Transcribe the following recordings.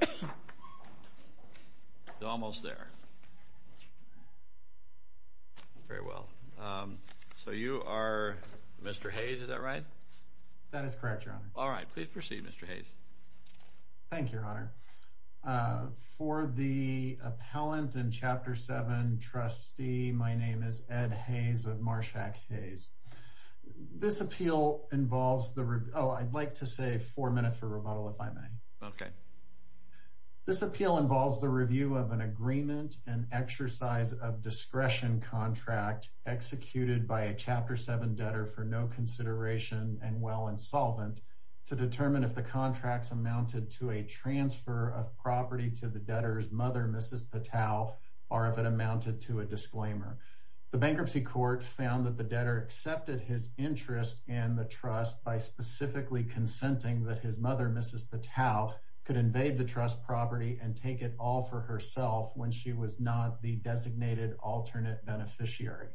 It's almost there. Very well. So you are Mr. Hayes, is that right? That is correct, Your Honor. All right. Please proceed, Mr. Hayes. Thank you, Your Honor. For the appellant in Chapter 7, trustee, my name is Ed Hayes of Marshack Hayes. This appeal involves the—oh, I'd like to say four minutes for rebuttal if I may. Okay. This appeal involves the review of an agreement and exercise of discretion contract executed by a Chapter 7 debtor for no consideration and well insolvent to determine if the contracts amounted to a transfer of property to the debtor's mother, Mrs. Patow, or if it amounted to a disclaimer. The bankruptcy court found that the debtor accepted his interest in the trust by specifically consenting that his mother, Mrs. Patow, could invade the trust property and take it all for herself when she was not the designated alternate beneficiary.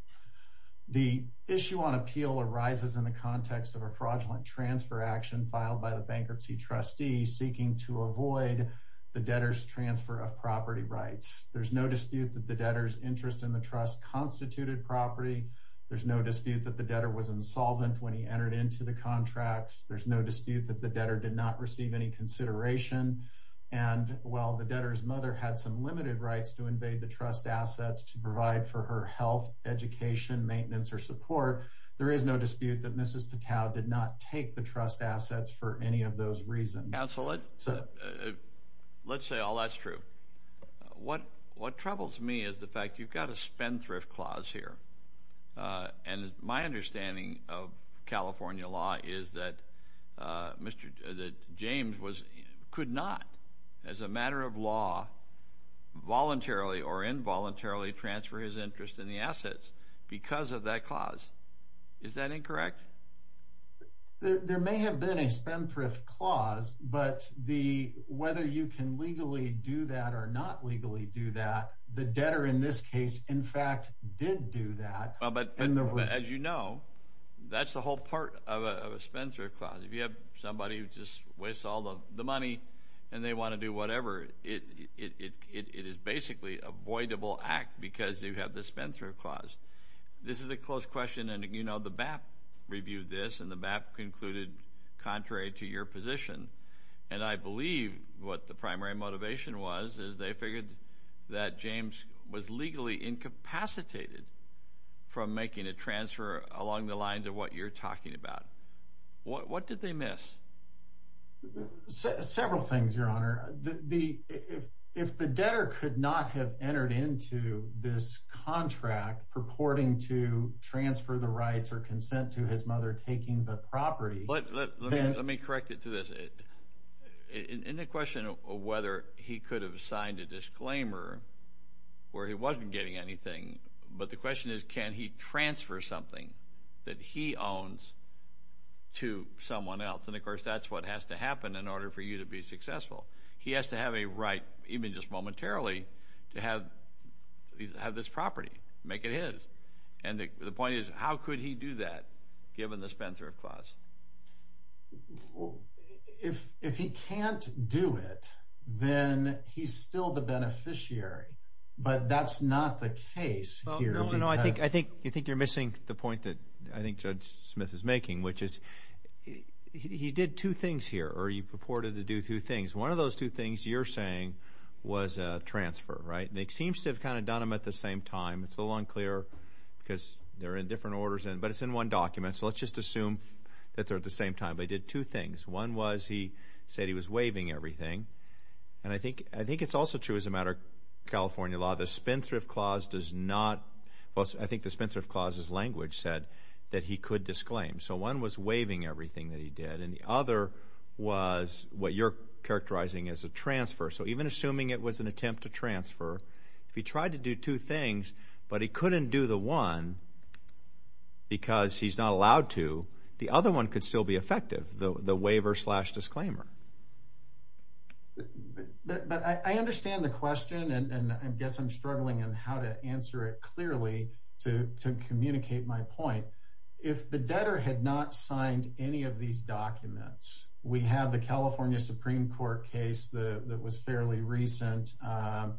The issue on appeal arises in the context of a fraudulent transfer action filed by the bankruptcy trustee seeking to avoid the debtor's transfer of property rights. There's no dispute that the debtor's interest in the trust constituted property. There's no dispute that the debtor was insolvent when he entered into the contracts. There's no dispute that the debtor did not receive any consideration. And while the debtor's mother had some limited rights to invade the trust assets to provide for her health, education, maintenance, or support, there is no dispute that Mrs. Patow did not take the trust assets for any of those reasons. Counsel, let's say all that's true. What troubles me is the fact you've got a spendthrift clause here. And my understanding of California law is that James could not, as a matter of law, voluntarily or involuntarily transfer his interest in the assets because of that clause. Is that incorrect? There may have been a spendthrift clause, but whether you can legally do that or not legally do that, the debtor in this case, in fact, did do that. As you know, that's the whole part of a spendthrift clause. If you have somebody who just wastes all the money and they want to do whatever, it is basically avoidable act because you have the spendthrift clause. This is a close question, and you know the BAP reviewed this, and the BAP concluded, contrary to your position, and I believe what the primary motivation was is they figured that James was legally incapacitated from making a transfer along the lines of what you're talking about. What did they miss? Several things, Your Honor. If the debtor could not have entered into this contract purporting to transfer the rights or consent to his mother taking the property... Let me correct it to this. In the question of whether he could have signed a disclaimer where he wasn't getting anything, but the question is can he transfer something that he owns to someone else? And of course, that's what has to happen in order for you to be successful. He has to have a right, even just momentarily, to have this property, make it his, and the point is how could he do that given the spendthrift clause? If he can't do it, then he's still the beneficiary, but that's not the case here. I think you're missing the point that I think Judge Smith is you're saying was a transfer, right? They seem to have kind of done them at the same time. It's a little unclear because they're in different orders, but it's in one document, so let's just assume that they're at the same time. They did two things. One was he said he was waiving everything, and I think it's also true as a matter of California law. The spendthrift clause does not... I think the spendthrift clause's language said that he could disclaim, so one was waiving everything that he did, and the other was what you're characterizing as a transfer, so even assuming it was an attempt to transfer, if he tried to do two things, but he couldn't do the one because he's not allowed to, the other one could still be effective, the waiver slash disclaimer. But I understand the question, and I guess I'm struggling on how to answer it clearly to communicate my point. If the debtor had not signed any of these documents, we have the California Supreme Court case that was fairly recent. I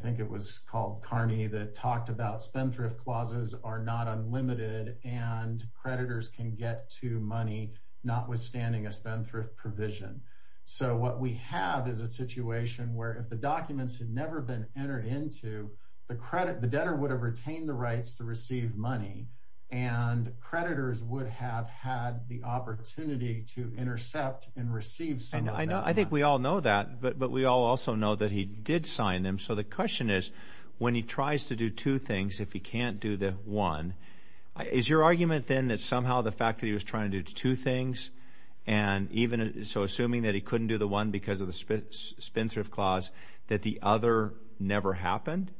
think it was called Carney that talked about spendthrift clauses are not unlimited, and creditors can get to money notwithstanding a spendthrift provision, so what we have is a situation where if the documents had never been entered into, the credit, the debtor would have retained the rights to receive money, and creditors would have had the opportunity to intercept and receive some of that. I think we all know that, but we all also know that he did sign them, so the question is, when he tries to do two things, if he can't do the one, is your argument then that somehow the fact that he was trying to do two things, and even so assuming that he couldn't do the one because of the spendthrift clause, that the other never happened?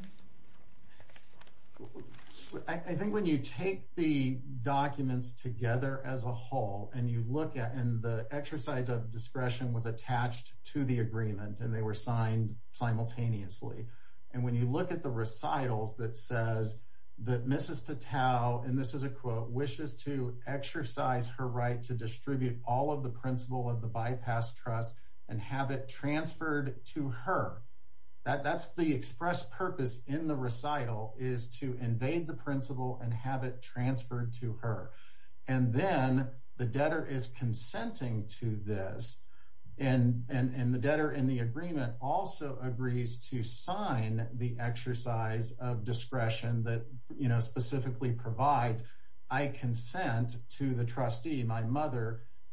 I think when you take the documents together as a whole, and you look at, and the exercise of discretion was attached to the agreement, and they were signed simultaneously, and when you look at the recitals that says that Mrs. Patel, and this is a quote, wishes to exercise her right to distribute all of the principal of the bypass trust and have it transferred to her, that's the express purpose in the recital, is to invade the principal and have it transferred to her, and then the debtor is consenting to this, and the debtor in the agreement also agrees to sign the exercise of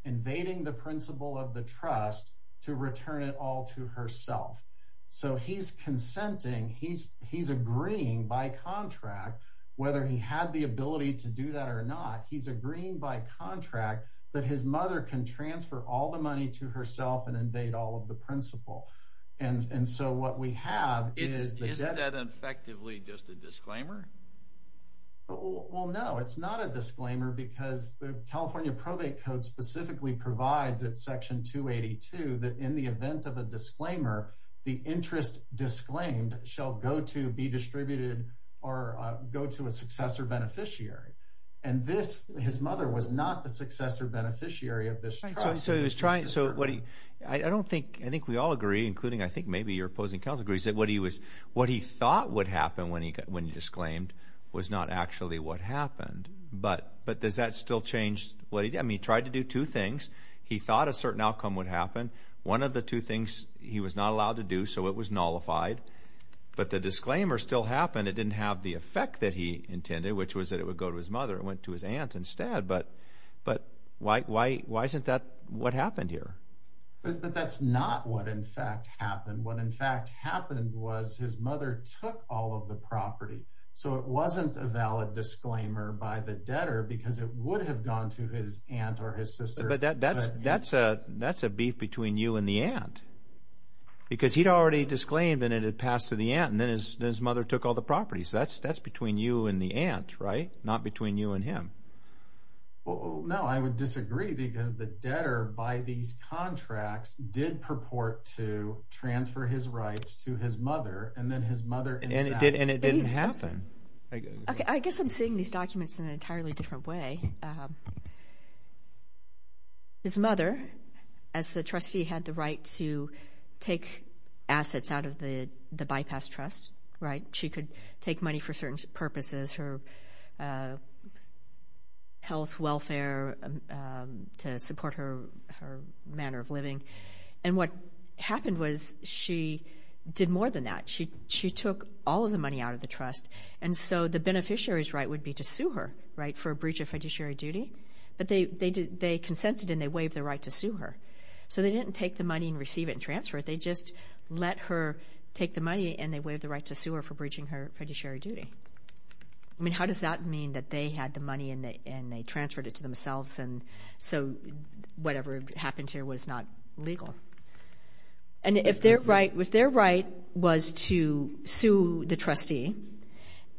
invading the principal of the trust to return it all to herself, so he's consenting, he's agreeing by contract, whether he had the ability to do that or not, he's agreeing by contract that his mother can transfer all the money to herself and invade all of the principal, and so what we have Is that effectively just a disclaimer? Well no, it's not a disclaimer because the California probate code specifically provides at section 282 that in the event of a disclaimer, the interest disclaimed shall go to be distributed or go to a successor beneficiary, and this, his mother was not the successor beneficiary of this trust. So he was trying, so what he, I don't think, I think we all agree, including I think maybe your opposing counsel agrees, that what he was, what he thought would happen when he got, when he disclaimed was not actually what happened, but, but does that still change what he did? He tried to do two things, he thought a certain outcome would happen, one of the two things he was not allowed to do, so it was nullified, but the disclaimer still happened, it didn't have the effect that he intended, which was that it would go to his mother, it went to his aunt instead, but, but why, why, why isn't that what happened here? But that's not what in fact happened, what in fact happened was his mother took all of the property, so it wasn't a valid disclaimer by the government that it had gone to his aunt or his sister. But that, that's, that's a, that's a beef between you and the aunt, because he'd already disclaimed and it had passed to the aunt, and then his, his mother took all the property, so that's, that's between you and the aunt, right? Not between you and him. Well, no, I would disagree, because the debtor by these contracts did purport to transfer his rights to his mother, and then his mother, and it did, and it didn't happen. Okay, I guess I'm seeing these documents in an entirely different way. His mother, as the trustee, had the right to take assets out of the, the bypass trust, right? She could take money for certain purposes, her health, welfare, to support her, her manner of living, and what happened was she did more than that. She, she took all of the money out of the trust, and so the beneficiary's right would be to sue her, right, for a breach of fiduciary duty, but they, they did, they consented and they waived the right to sue her. So they didn't take the money and receive it and transfer it, they just let her take the money and they waived the right to sue her for breaching her fiduciary duty. I mean, how does that mean that they had the money and they, and they transferred it to themselves, and so whatever happened here was not legal, and if their right, if their right was to sue the trustee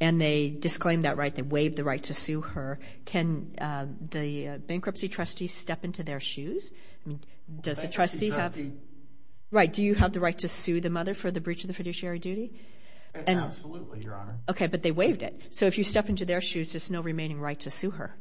and they disclaimed that right, they waived the right to sue her, can the bankruptcy trustee step into their shoes? I mean, does the trustee have, right, do you have the right to sue the mother for the breach of the fiduciary duty? Absolutely, your honor. Okay, but they waived it, so if you step into their shoes, there's no remaining right to sue her.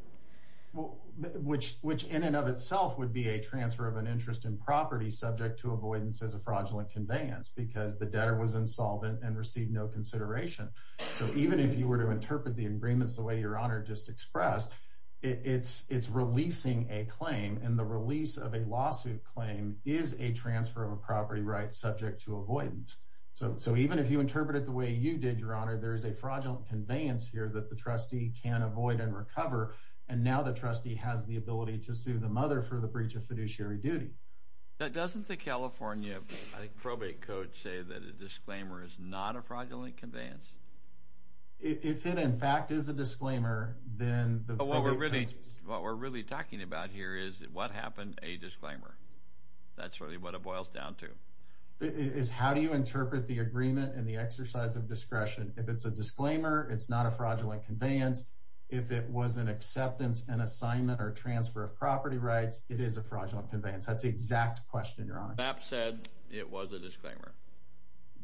Well, which, which in and of itself would be a transfer of an interest in property subject to avoidance as a fraudulent conveyance, because the debtor was insolvent and received no consideration. So even if you were to interpret the agreements the way your honor just expressed, it's, it's releasing a claim and the release of a lawsuit claim is a transfer of a property right subject to avoidance. So, so even if you interpret it the way you did, your honor, there is a fraudulent conveyance here that the trustee can avoid and recover, and now the trustee has the ability to sue the mother for the breach of fiduciary duty. Now, doesn't the California probate code say that a disclaimer is not a fraudulent conveyance? If it, in fact, is a disclaimer, then what we're really, what we're really talking about here is what happened, a disclaimer. That's really what it boils down to. Is how do you interpret the agreement and the exercise of discretion? If it's a disclaimer, it's not a fraudulent conveyance. If it was an acceptance and assignment or transfer of property rights, it is a fraudulent conveyance. That's the exact question, your honor. BAP said it was a disclaimer.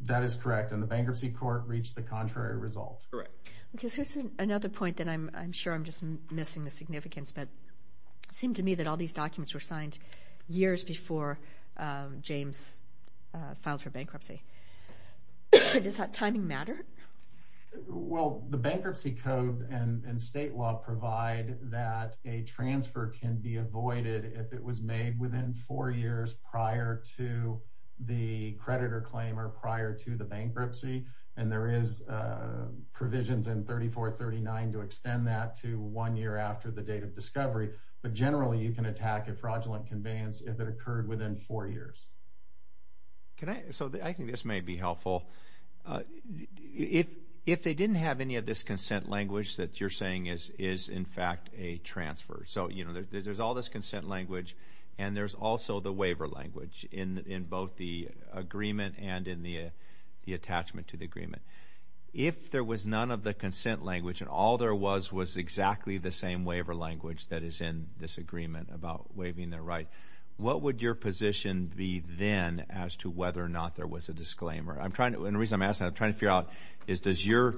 That is correct, and the bankruptcy court reached the contrary result. Correct. Okay, so here's another point that I'm, I'm sure I'm just missing the significance, but it seemed to me that all these documents were signed years before James filed for bankruptcy. Does that timing matter? Well, the bankruptcy code and state law provide that a transfer can be avoided if it was made within four years prior to the creditor claim or prior to the bankruptcy, and there is provisions in 3439 to extend that to one year after the date of discovery, but generally, you can attack a fraudulent conveyance if it occurred within four years. Can I, so I think this may be helpful. Uh, if, if they didn't have any of this consent language that you're saying is, is in fact a transfer, so, you know, there's, there's all this consent language, and there's also the waiver language in, in both the agreement and in the, the attachment to the agreement. If there was none of the consent language and all there was was exactly the same waiver language that is in this agreement about waiving their right, what would your reason I'm asking, I'm trying to figure out, is does your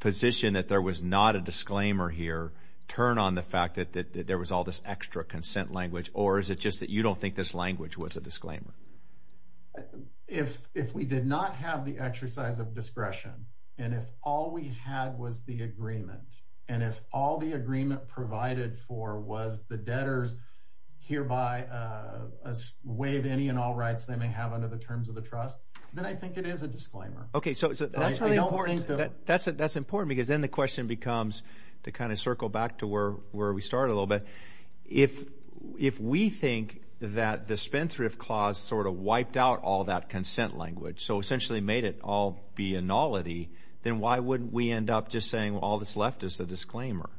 position that there was not a disclaimer here turn on the fact that, that there was all this extra consent language, or is it just that you don't think this language was a disclaimer? If, if we did not have the exercise of discretion and if all we had was the agreement and if all the agreement provided for was the debtors hereby, uh, waive any and all rights they may have under the terms of the trust, then I think it is a disclaimer. Okay, so that's really important, that's, that's important because then the question becomes to kind of circle back to where, where we started a little bit, if, if we think that the spendthrift clause sort of wiped out all that consent language, so essentially made it all be a nullity, then why wouldn't we end up just saying all that's left is the disclaimer?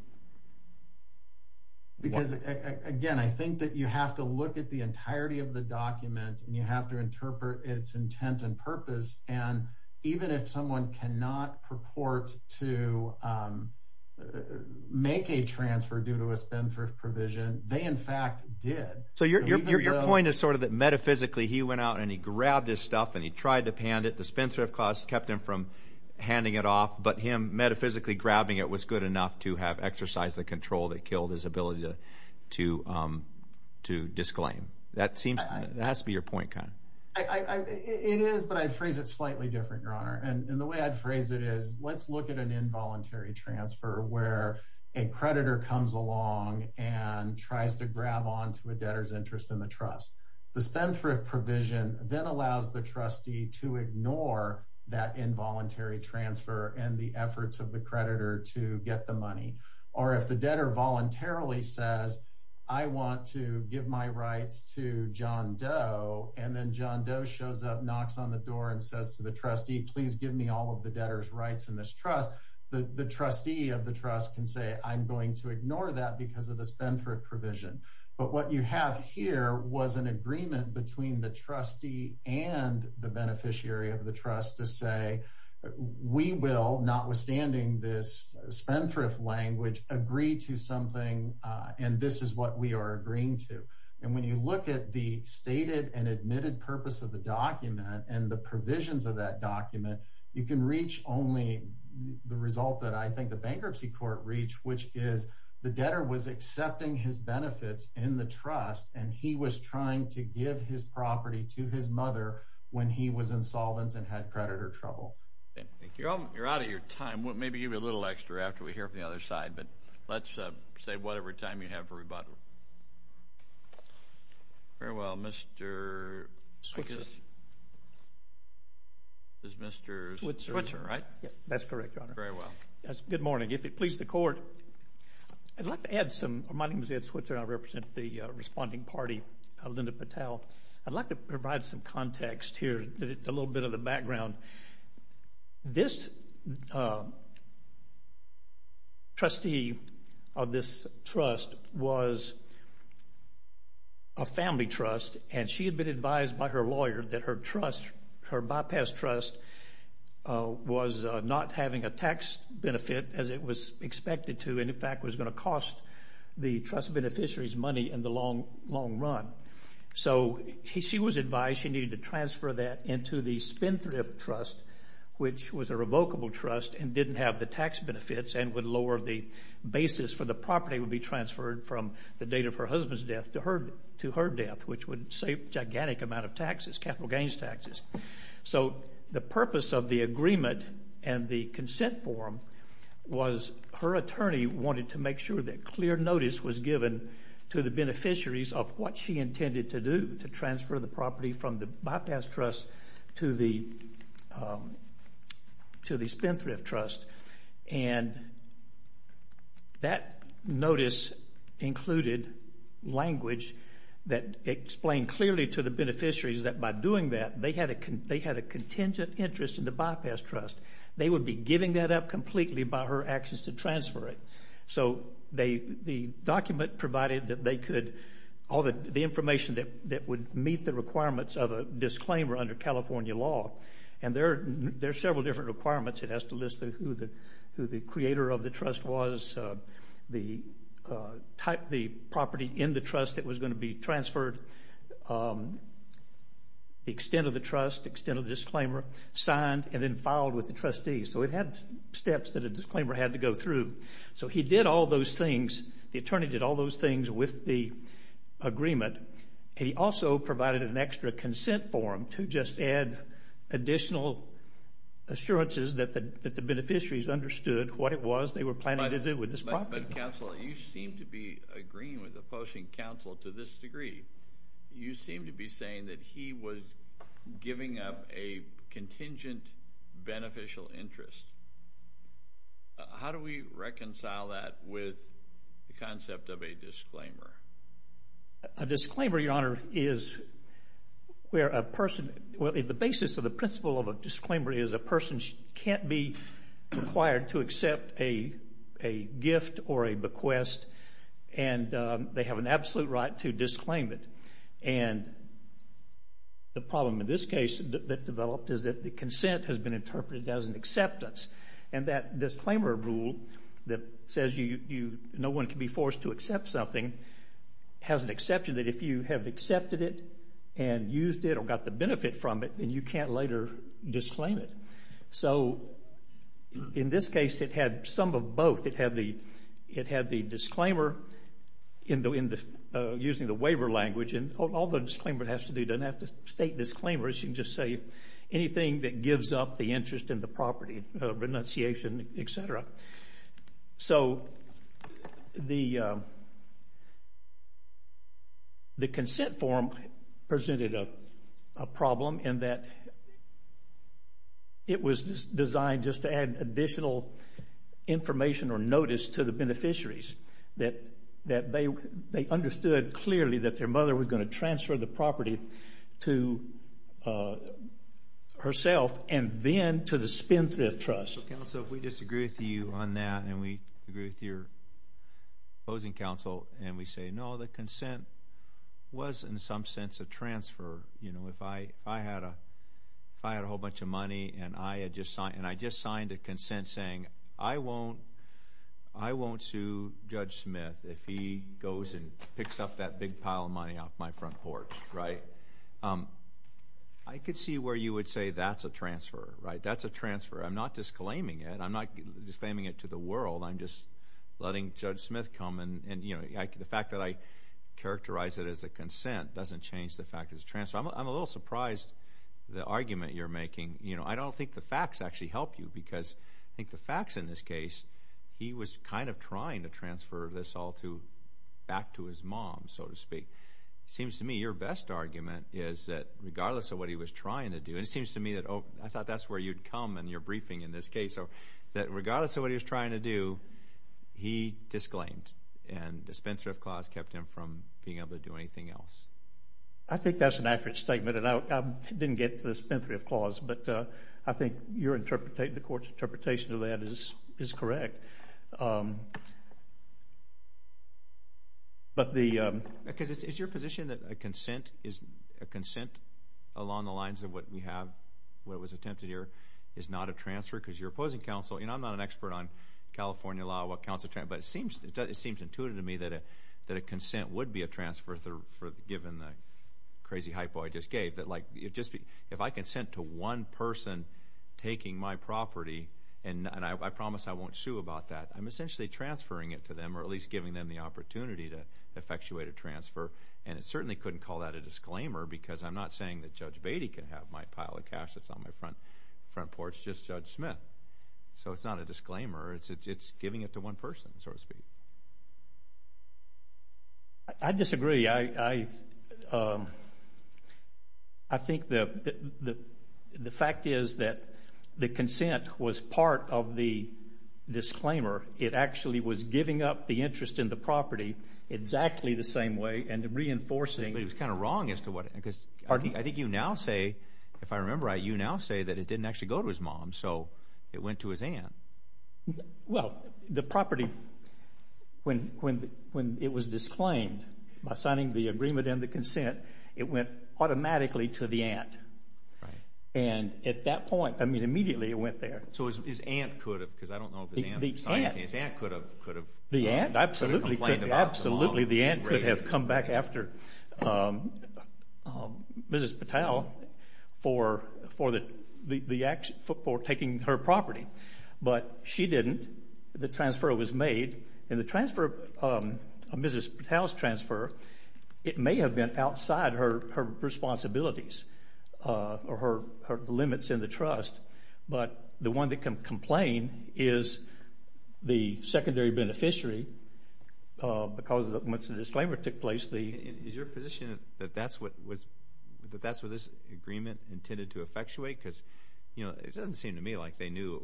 Because again, I think that you have to look at the entirety of the and even if someone cannot purport to, um, make a transfer due to a spendthrift provision, they in fact did. So your, your, your point is sort of that metaphysically he went out and he grabbed his stuff and he tried to pan it, the spendthrift clause kept him from handing it off, but him metaphysically grabbing it was good enough to have exercised the control that killed his to, um, to disclaim. That seems, that has to be your point, kind of. I, I, it is, but I phrase it slightly different, your honor, and the way I'd phrase it is, let's look at an involuntary transfer where a creditor comes along and tries to grab onto a debtor's interest in the trust. The spendthrift provision then allows the trustee to ignore that involuntary transfer and the I want to give my rights to John Doe and then John Doe shows up, knocks on the door and says to the trustee, please give me all of the debtor's rights in this trust. The, the trustee of the trust can say, I'm going to ignore that because of the spendthrift provision. But what you have here was an agreement between the trustee and the beneficiary of the trust to say, we will, notwithstanding this spendthrift language, agree to something and this is what we are agreeing to. And when you look at the stated and admitted purpose of the document and the provisions of that document, you can reach only the result that I think the bankruptcy court reached, which is the debtor was accepting his benefits in the trust and he was trying to give his property to his mother when he was insolvent and had creditor trouble. Thank you. You're out of your time. Maybe give me a little extra after we hear from the other side, but let's save whatever time you have for rebuttal. Very well, Mr. This is Mr. Switzer, right? That's correct, your honor. Very well. Good morning. If it pleases the court, I'd like to add some, my name is Ed Switzer and I represent the responding party, Linda Patel. I'd like to provide some context here, a little bit of the background. This trustee of this trust was a family trust and she had been advised by her lawyer that her trust, her bypass trust, was not having a tax benefit as it was expected to and, in fact, was going to cost the trust beneficiary's money in the long run. So she was advised she needed to transfer that into the spin thrift trust, which was a revocable trust and didn't have the tax benefits and would lower the basis for the property would be transferred from the date of her husband's death to her death, which would save gigantic amount of taxes, capital gains taxes. So the purpose of the agreement and the consent form was her attorney wanted to make sure that clear notice was given to the beneficiaries of what she intended to do, to transfer the property from the bypass trust to the spin thrift trust. And that notice included language that explained clearly to the beneficiaries that by doing that they had a contingent interest in the bypass trust. They would be giving that up completely by her actions to transfer it. So the document provided that they could, all the information that would meet the requirements of a disclaimer under California law, and there are several different requirements. It has to list who the creator of the trust was, the property in the trust that was going to be transferred, the extent of the trust, extent of the disclaimer, signed and then filed with the trustees. So it had steps that a disclaimer had to go through. So he did all those things. The attorney did all those things with the agreement. He also provided an extra consent form to just add additional assurances that the were planning to do with this property. But counsel, you seem to be agreeing with opposing counsel to this degree. You seem to be saying that he was giving up a contingent beneficial interest. How do we reconcile that with the concept of a disclaimer? A disclaimer, your honor, is where a person, well the basis of the principle of a disclaimer is a person can't be required to accept a gift or a bequest and they have an absolute right to disclaim it. And the problem in this case that developed is that the consent has been interpreted as an acceptance. And that disclaimer rule that says no one can be forced to accept something has an exception that if you have accepted it and used it or got the benefit from it, then you can't later disclaim it. So in this case it had some of both. It had the disclaimer using the waiver language and all the disclaimer has to do doesn't have to state disclaimers. You can just say anything that gives up the interest in the property, renunciation, etc. So the consent form presented a problem in that it was designed just to add additional information or notice to the beneficiaries that they understood clearly that their mother was going to transfer the property to herself and then to the Spendthrift Trust. Counsel, we disagree with you on that and we agree with your opposing counsel and we say no, the consent was in some sense a transfer. If I had a whole bunch of money and I just signed a consent saying I won't sue Judge Smith if he goes and picks up that big pile of money off my front porch, I could see where you would say that's a transfer. That's a transfer. I'm not disclaiming it to the world. I'm just letting Judge Smith come and the fact that I characterize it as a consent doesn't change the fact it's a transfer. I'm a little surprised the argument you're making. I don't think the facts actually help you because I think the facts in this case, he was kind of trying to transfer this all back to his mom, so to speak. It seems to me your best argument is that regardless of what he was trying to do, it seems to me that I thought that's where you'd come in your briefing in this case, that regardless of what he was trying to do, he disclaimed and the Spendthrift Clause kept him from being able to do anything else. I think that's an accurate statement and I didn't get to the Spendthrift Clause, but I think the court's interpretation of that is correct. Is your position that a consent along the lines of what we have, what was attempted here, is not a transfer? Because you're opposing counsel, and I'm not an expert on California law, but it seems intuitive to me that a consent would be a transfer given the crazy hypo I just gave. If I consent to one person taking my property, and I promise I won't sue about that, I'm essentially transferring it to them or at least giving them the opportunity to effectuate a transfer. And I certainly couldn't call that a disclaimer because I'm not saying Judge Beatty can have my pile of cash that's on my front porch, just Judge Smith. So it's not a disclaimer. It's giving it to one person, so to speak. I disagree. I think the fact is that the consent was part of the disclaimer. It actually was giving up the interest in the property exactly the same way and reinforcing. It was kind of wrong as to what, because I think you now say, if I remember right, you now say that it didn't actually go to his mom, so it went to his aunt. Well, the property, when it was disclaimed by signing the agreement and the consent, it went automatically to the aunt. And at that point, I mean immediately it went there. So his aunt could have complained about the mom. Absolutely, the aunt could have come back after Mrs. Patel for taking her property. But she didn't. The transfer was made. And the transfer, Mrs. Patel's transfer, it may have been outside her responsibilities or her limits in the trust, but the one that can complain is the secondary beneficiary because once the disclaimer took place. Is your position that that's what this agreement intended to effectuate? Because it doesn't seem to me like they knew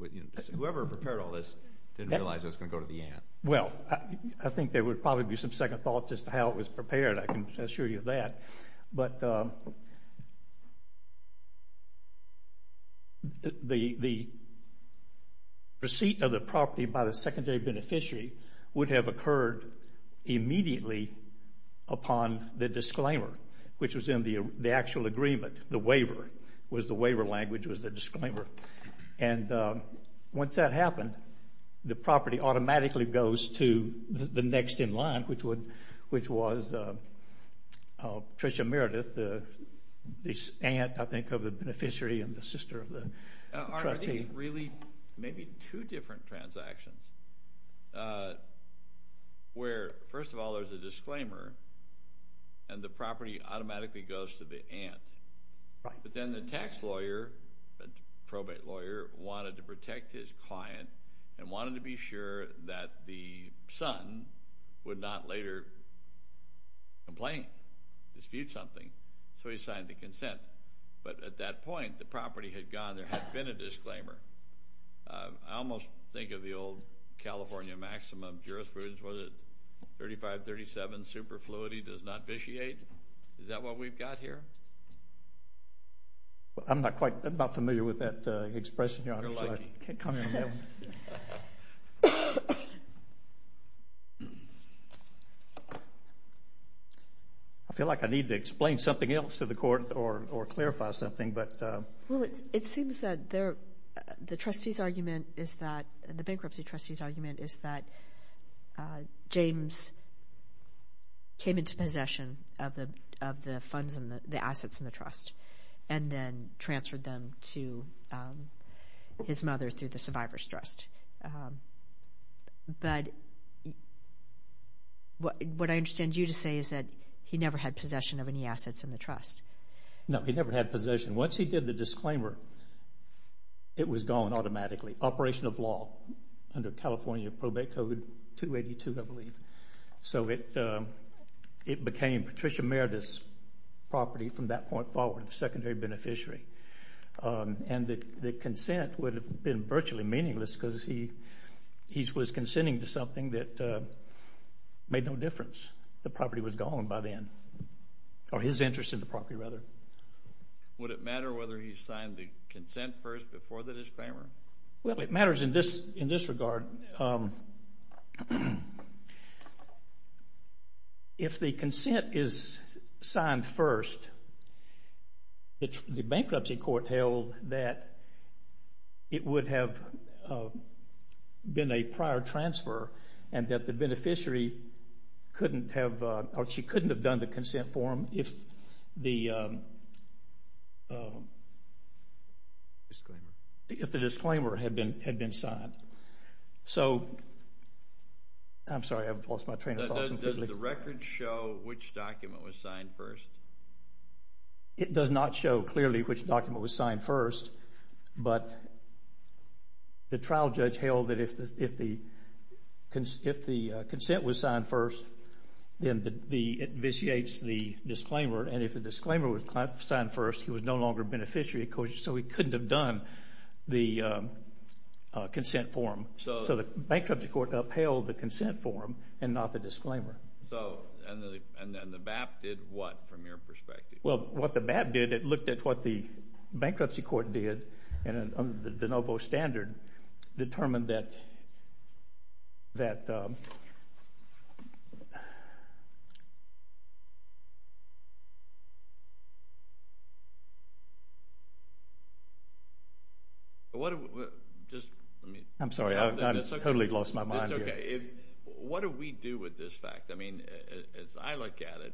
whoever prepared all this didn't realize it was going to go to the aunt. Well, I think there would probably be some second thought just to how it was prepared. I can The receipt of the property by the secondary beneficiary would have occurred immediately upon the disclaimer, which was in the actual agreement, the waiver, was the waiver language, was the disclaimer. And once that happened, the property automatically goes to the next in line, which was Trisha Meredith, the aunt, I think, of the beneficiary and the sister of the Really, maybe two different transactions. Where, first of all, there's a disclaimer, and the property automatically goes to the aunt. But then the tax lawyer, probate lawyer wanted to protect his client and wanted to be sure that the son would not later complain, dispute something. So he signed the consent. But at that point, the property had gone. There had been a disclaimer. I almost think of the old California maximum jurisprudence. Was it 3537? Superfluity does not vitiate. Is that what we've got here? I'm not quite familiar with that expression. I feel like I need to explain something else to the court or clarify something. Well, it seems that the bankruptcy trustee's argument is that James came into possession of the assets in the trust and then transferred them to his mother through the survivor's trust. But what I understand you to say is that never had possession of any assets in the trust. No, he never had possession. Once he did the disclaimer, it was gone automatically. Operation of law under California Probate Code 282, I believe. So it became Patricia Meredith's property from that point forward, the secondary beneficiary. And the consent would have been virtually meaningless because he was consenting to something that made no difference. The property was gone by then. Or his interest in the property, rather. Would it matter whether he signed the consent first before the disclaimer? Well, it matters in this regard. If the consent is signed first, the bankruptcy court held that it would have been a prior transfer and that the beneficiary couldn't have done the consent form if the disclaimer had been signed. So, I'm sorry, I've lost my train of thought. Does the record show which document was signed first? It does not show clearly which document was signed first, but the trial judge held that if the consent was signed first, then it vitiates the disclaimer. And if the disclaimer was signed first, he was no longer a beneficiary. So he couldn't have done the consent form. So the bankruptcy court upheld the consent form and not the disclaimer. So, and the BAP did what, from your perspective? Well, what the BAP did, it looked at what the bankruptcy court did, and under the de novo standard, determined that... I'm sorry, I've totally lost my mind here. What do we do with this fact? I mean, as I look at it,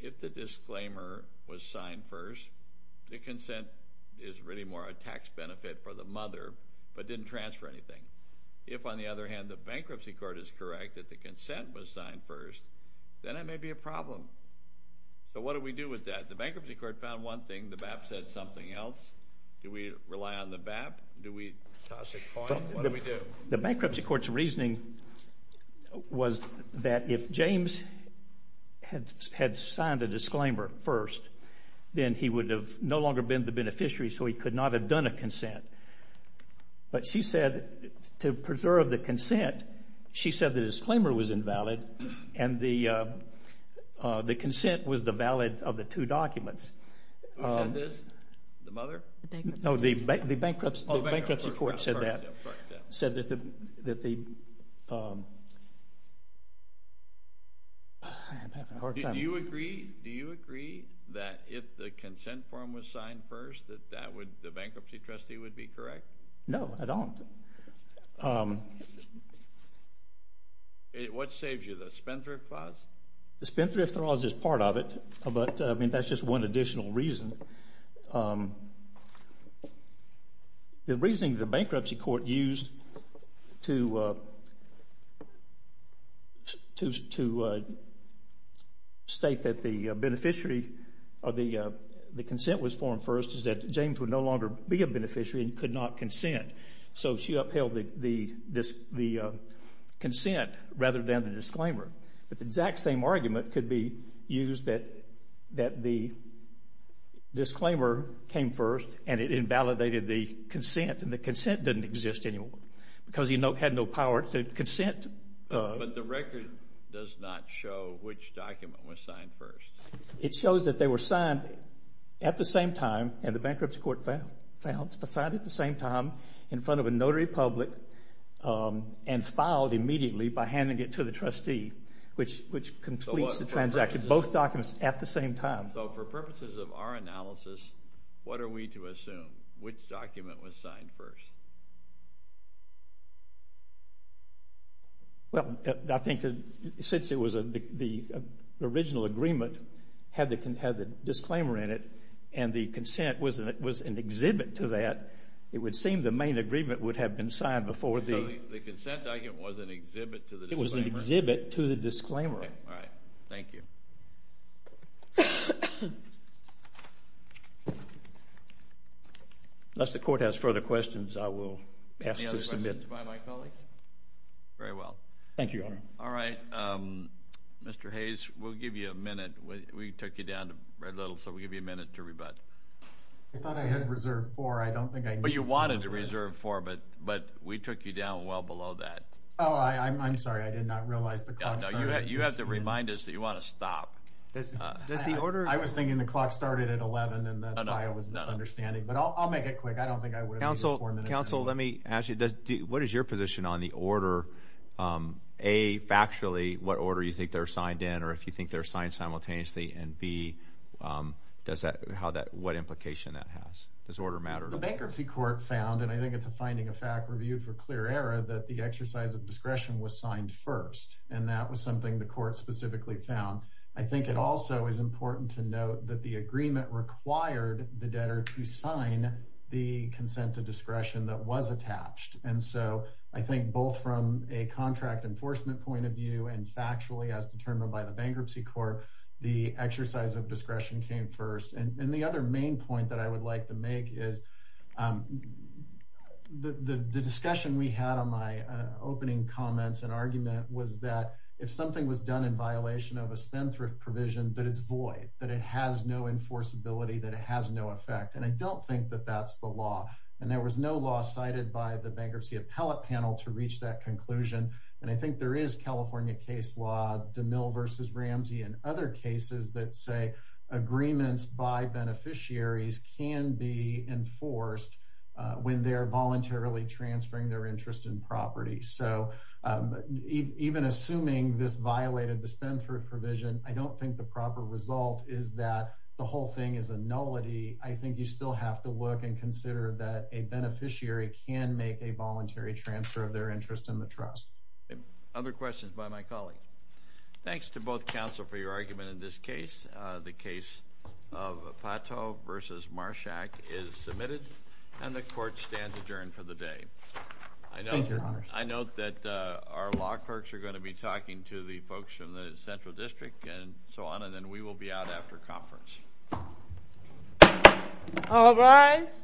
if the disclaimer was signed first, the consent is really more a tax benefit for the mother, but didn't transfer anything. If, on the other hand, the bankruptcy court is correct that the consent was signed first, then it may be a problem. So what do we do with that? The bankruptcy court found one thing, the BAP said something else. Do we rely on the BAP? Do we toss a coin? What do we do? The bankruptcy court's reasoning was that if James had signed a disclaimer first, then he would have no longer been the beneficiary, so he could not have done a consent. But she said, to preserve the consent, she said the disclaimer was invalid, and the consent was the valid of the two documents. Who said this? The mother? No, the bankruptcy court said that. Do you agree that if the consent form was signed first, that the bankruptcy trustee would be correct? No, I don't. What saves you, the spendthrift clause? The spendthrift clause is part of it, but that's just one additional reason. The reasoning the bankruptcy court used to state that the beneficiary or the consent was formed first is that James would no longer be a beneficiary and could not consent. So she upheld the consent rather than the disclaimer. But the exact same argument could be used that the disclaimer came first and it invalidated the consent, and the consent didn't exist anymore because he had no power to consent. But the record does not show which document was signed first. It shows that they were signed at the same time, and the bankruptcy court found, signed at the same time in front of a notary public and filed immediately by handing it to the trustee, which completes the transaction, both documents at the same time. So for purposes of our analysis, what are we to assume? Which document was signed first? Well, I think since it was the original agreement had the disclaimer in it and the consent was an exhibit to that, it would seem the main agreement would have been signed before the... So the consent document was an exhibit to the disclaimer? It was an exhibit to the disclaimer. All right. Thank you. Unless the court has further questions, I will ask to submit. Any other questions by my colleagues? Very well. Thank you, Your Honor. All right. Mr. Hayes, we'll give you a minute. We took you down to Red Little, so we'll give you a minute to rebut. I thought I had reserved four. I don't think I... But you wanted to reserve four, but we took you down well below that. Oh, I'm sorry. I did not realize the clock started. You have to remind us that you want to stop. I was thinking the clock started at 11, and that's why I was misunderstanding, but I'll make it quick. I don't think I would have needed four minutes. Counsel, let me ask you, what is your position on the order, A, factually, what order you think they're signed in, or if you think they're signed simultaneously, and B, what implication that has? Does order matter? The bankruptcy court found, and I think it's a finding of fact reviewed for clear error, that the exercise of discretion was signed first, and that was something the court specifically found. I think it also is important to note that the agreement required the debtor to sign the consent to discretion that was attached, and so I think both from a contract enforcement point of view and factually as determined by the bankruptcy court, the exercise of discretion came first. And the other main point that I would like to make is the discussion we had on my opening comments and argument was that if something was done in violation of a spendthrift provision, that it's void, that it has no enforceability, that it has no effect, and I don't think that that's the law, and there was no law cited by the bankruptcy appellate panel to reach that conclusion, and I think there is California case law, DeMille v. Ramsey, and other cases that say agreements by beneficiaries can be enforced when they're voluntarily transferring their interest in property, so even assuming this violated the spendthrift provision, I don't think the proper result is that the whole thing is a nullity. I think you still have to look and consider that a beneficiary can make a voluntary transfer of their interest in the trust. Other questions by my colleagues? Thanks to both counsel for your argument in this case. The case of Pato v. Marsh Act is submitted, and the court stands adjourned for the day. Thank you, your honors. I note that our law clerks are going to be talking to the folks in the central district and so on, and then we will be out after conference. All rise.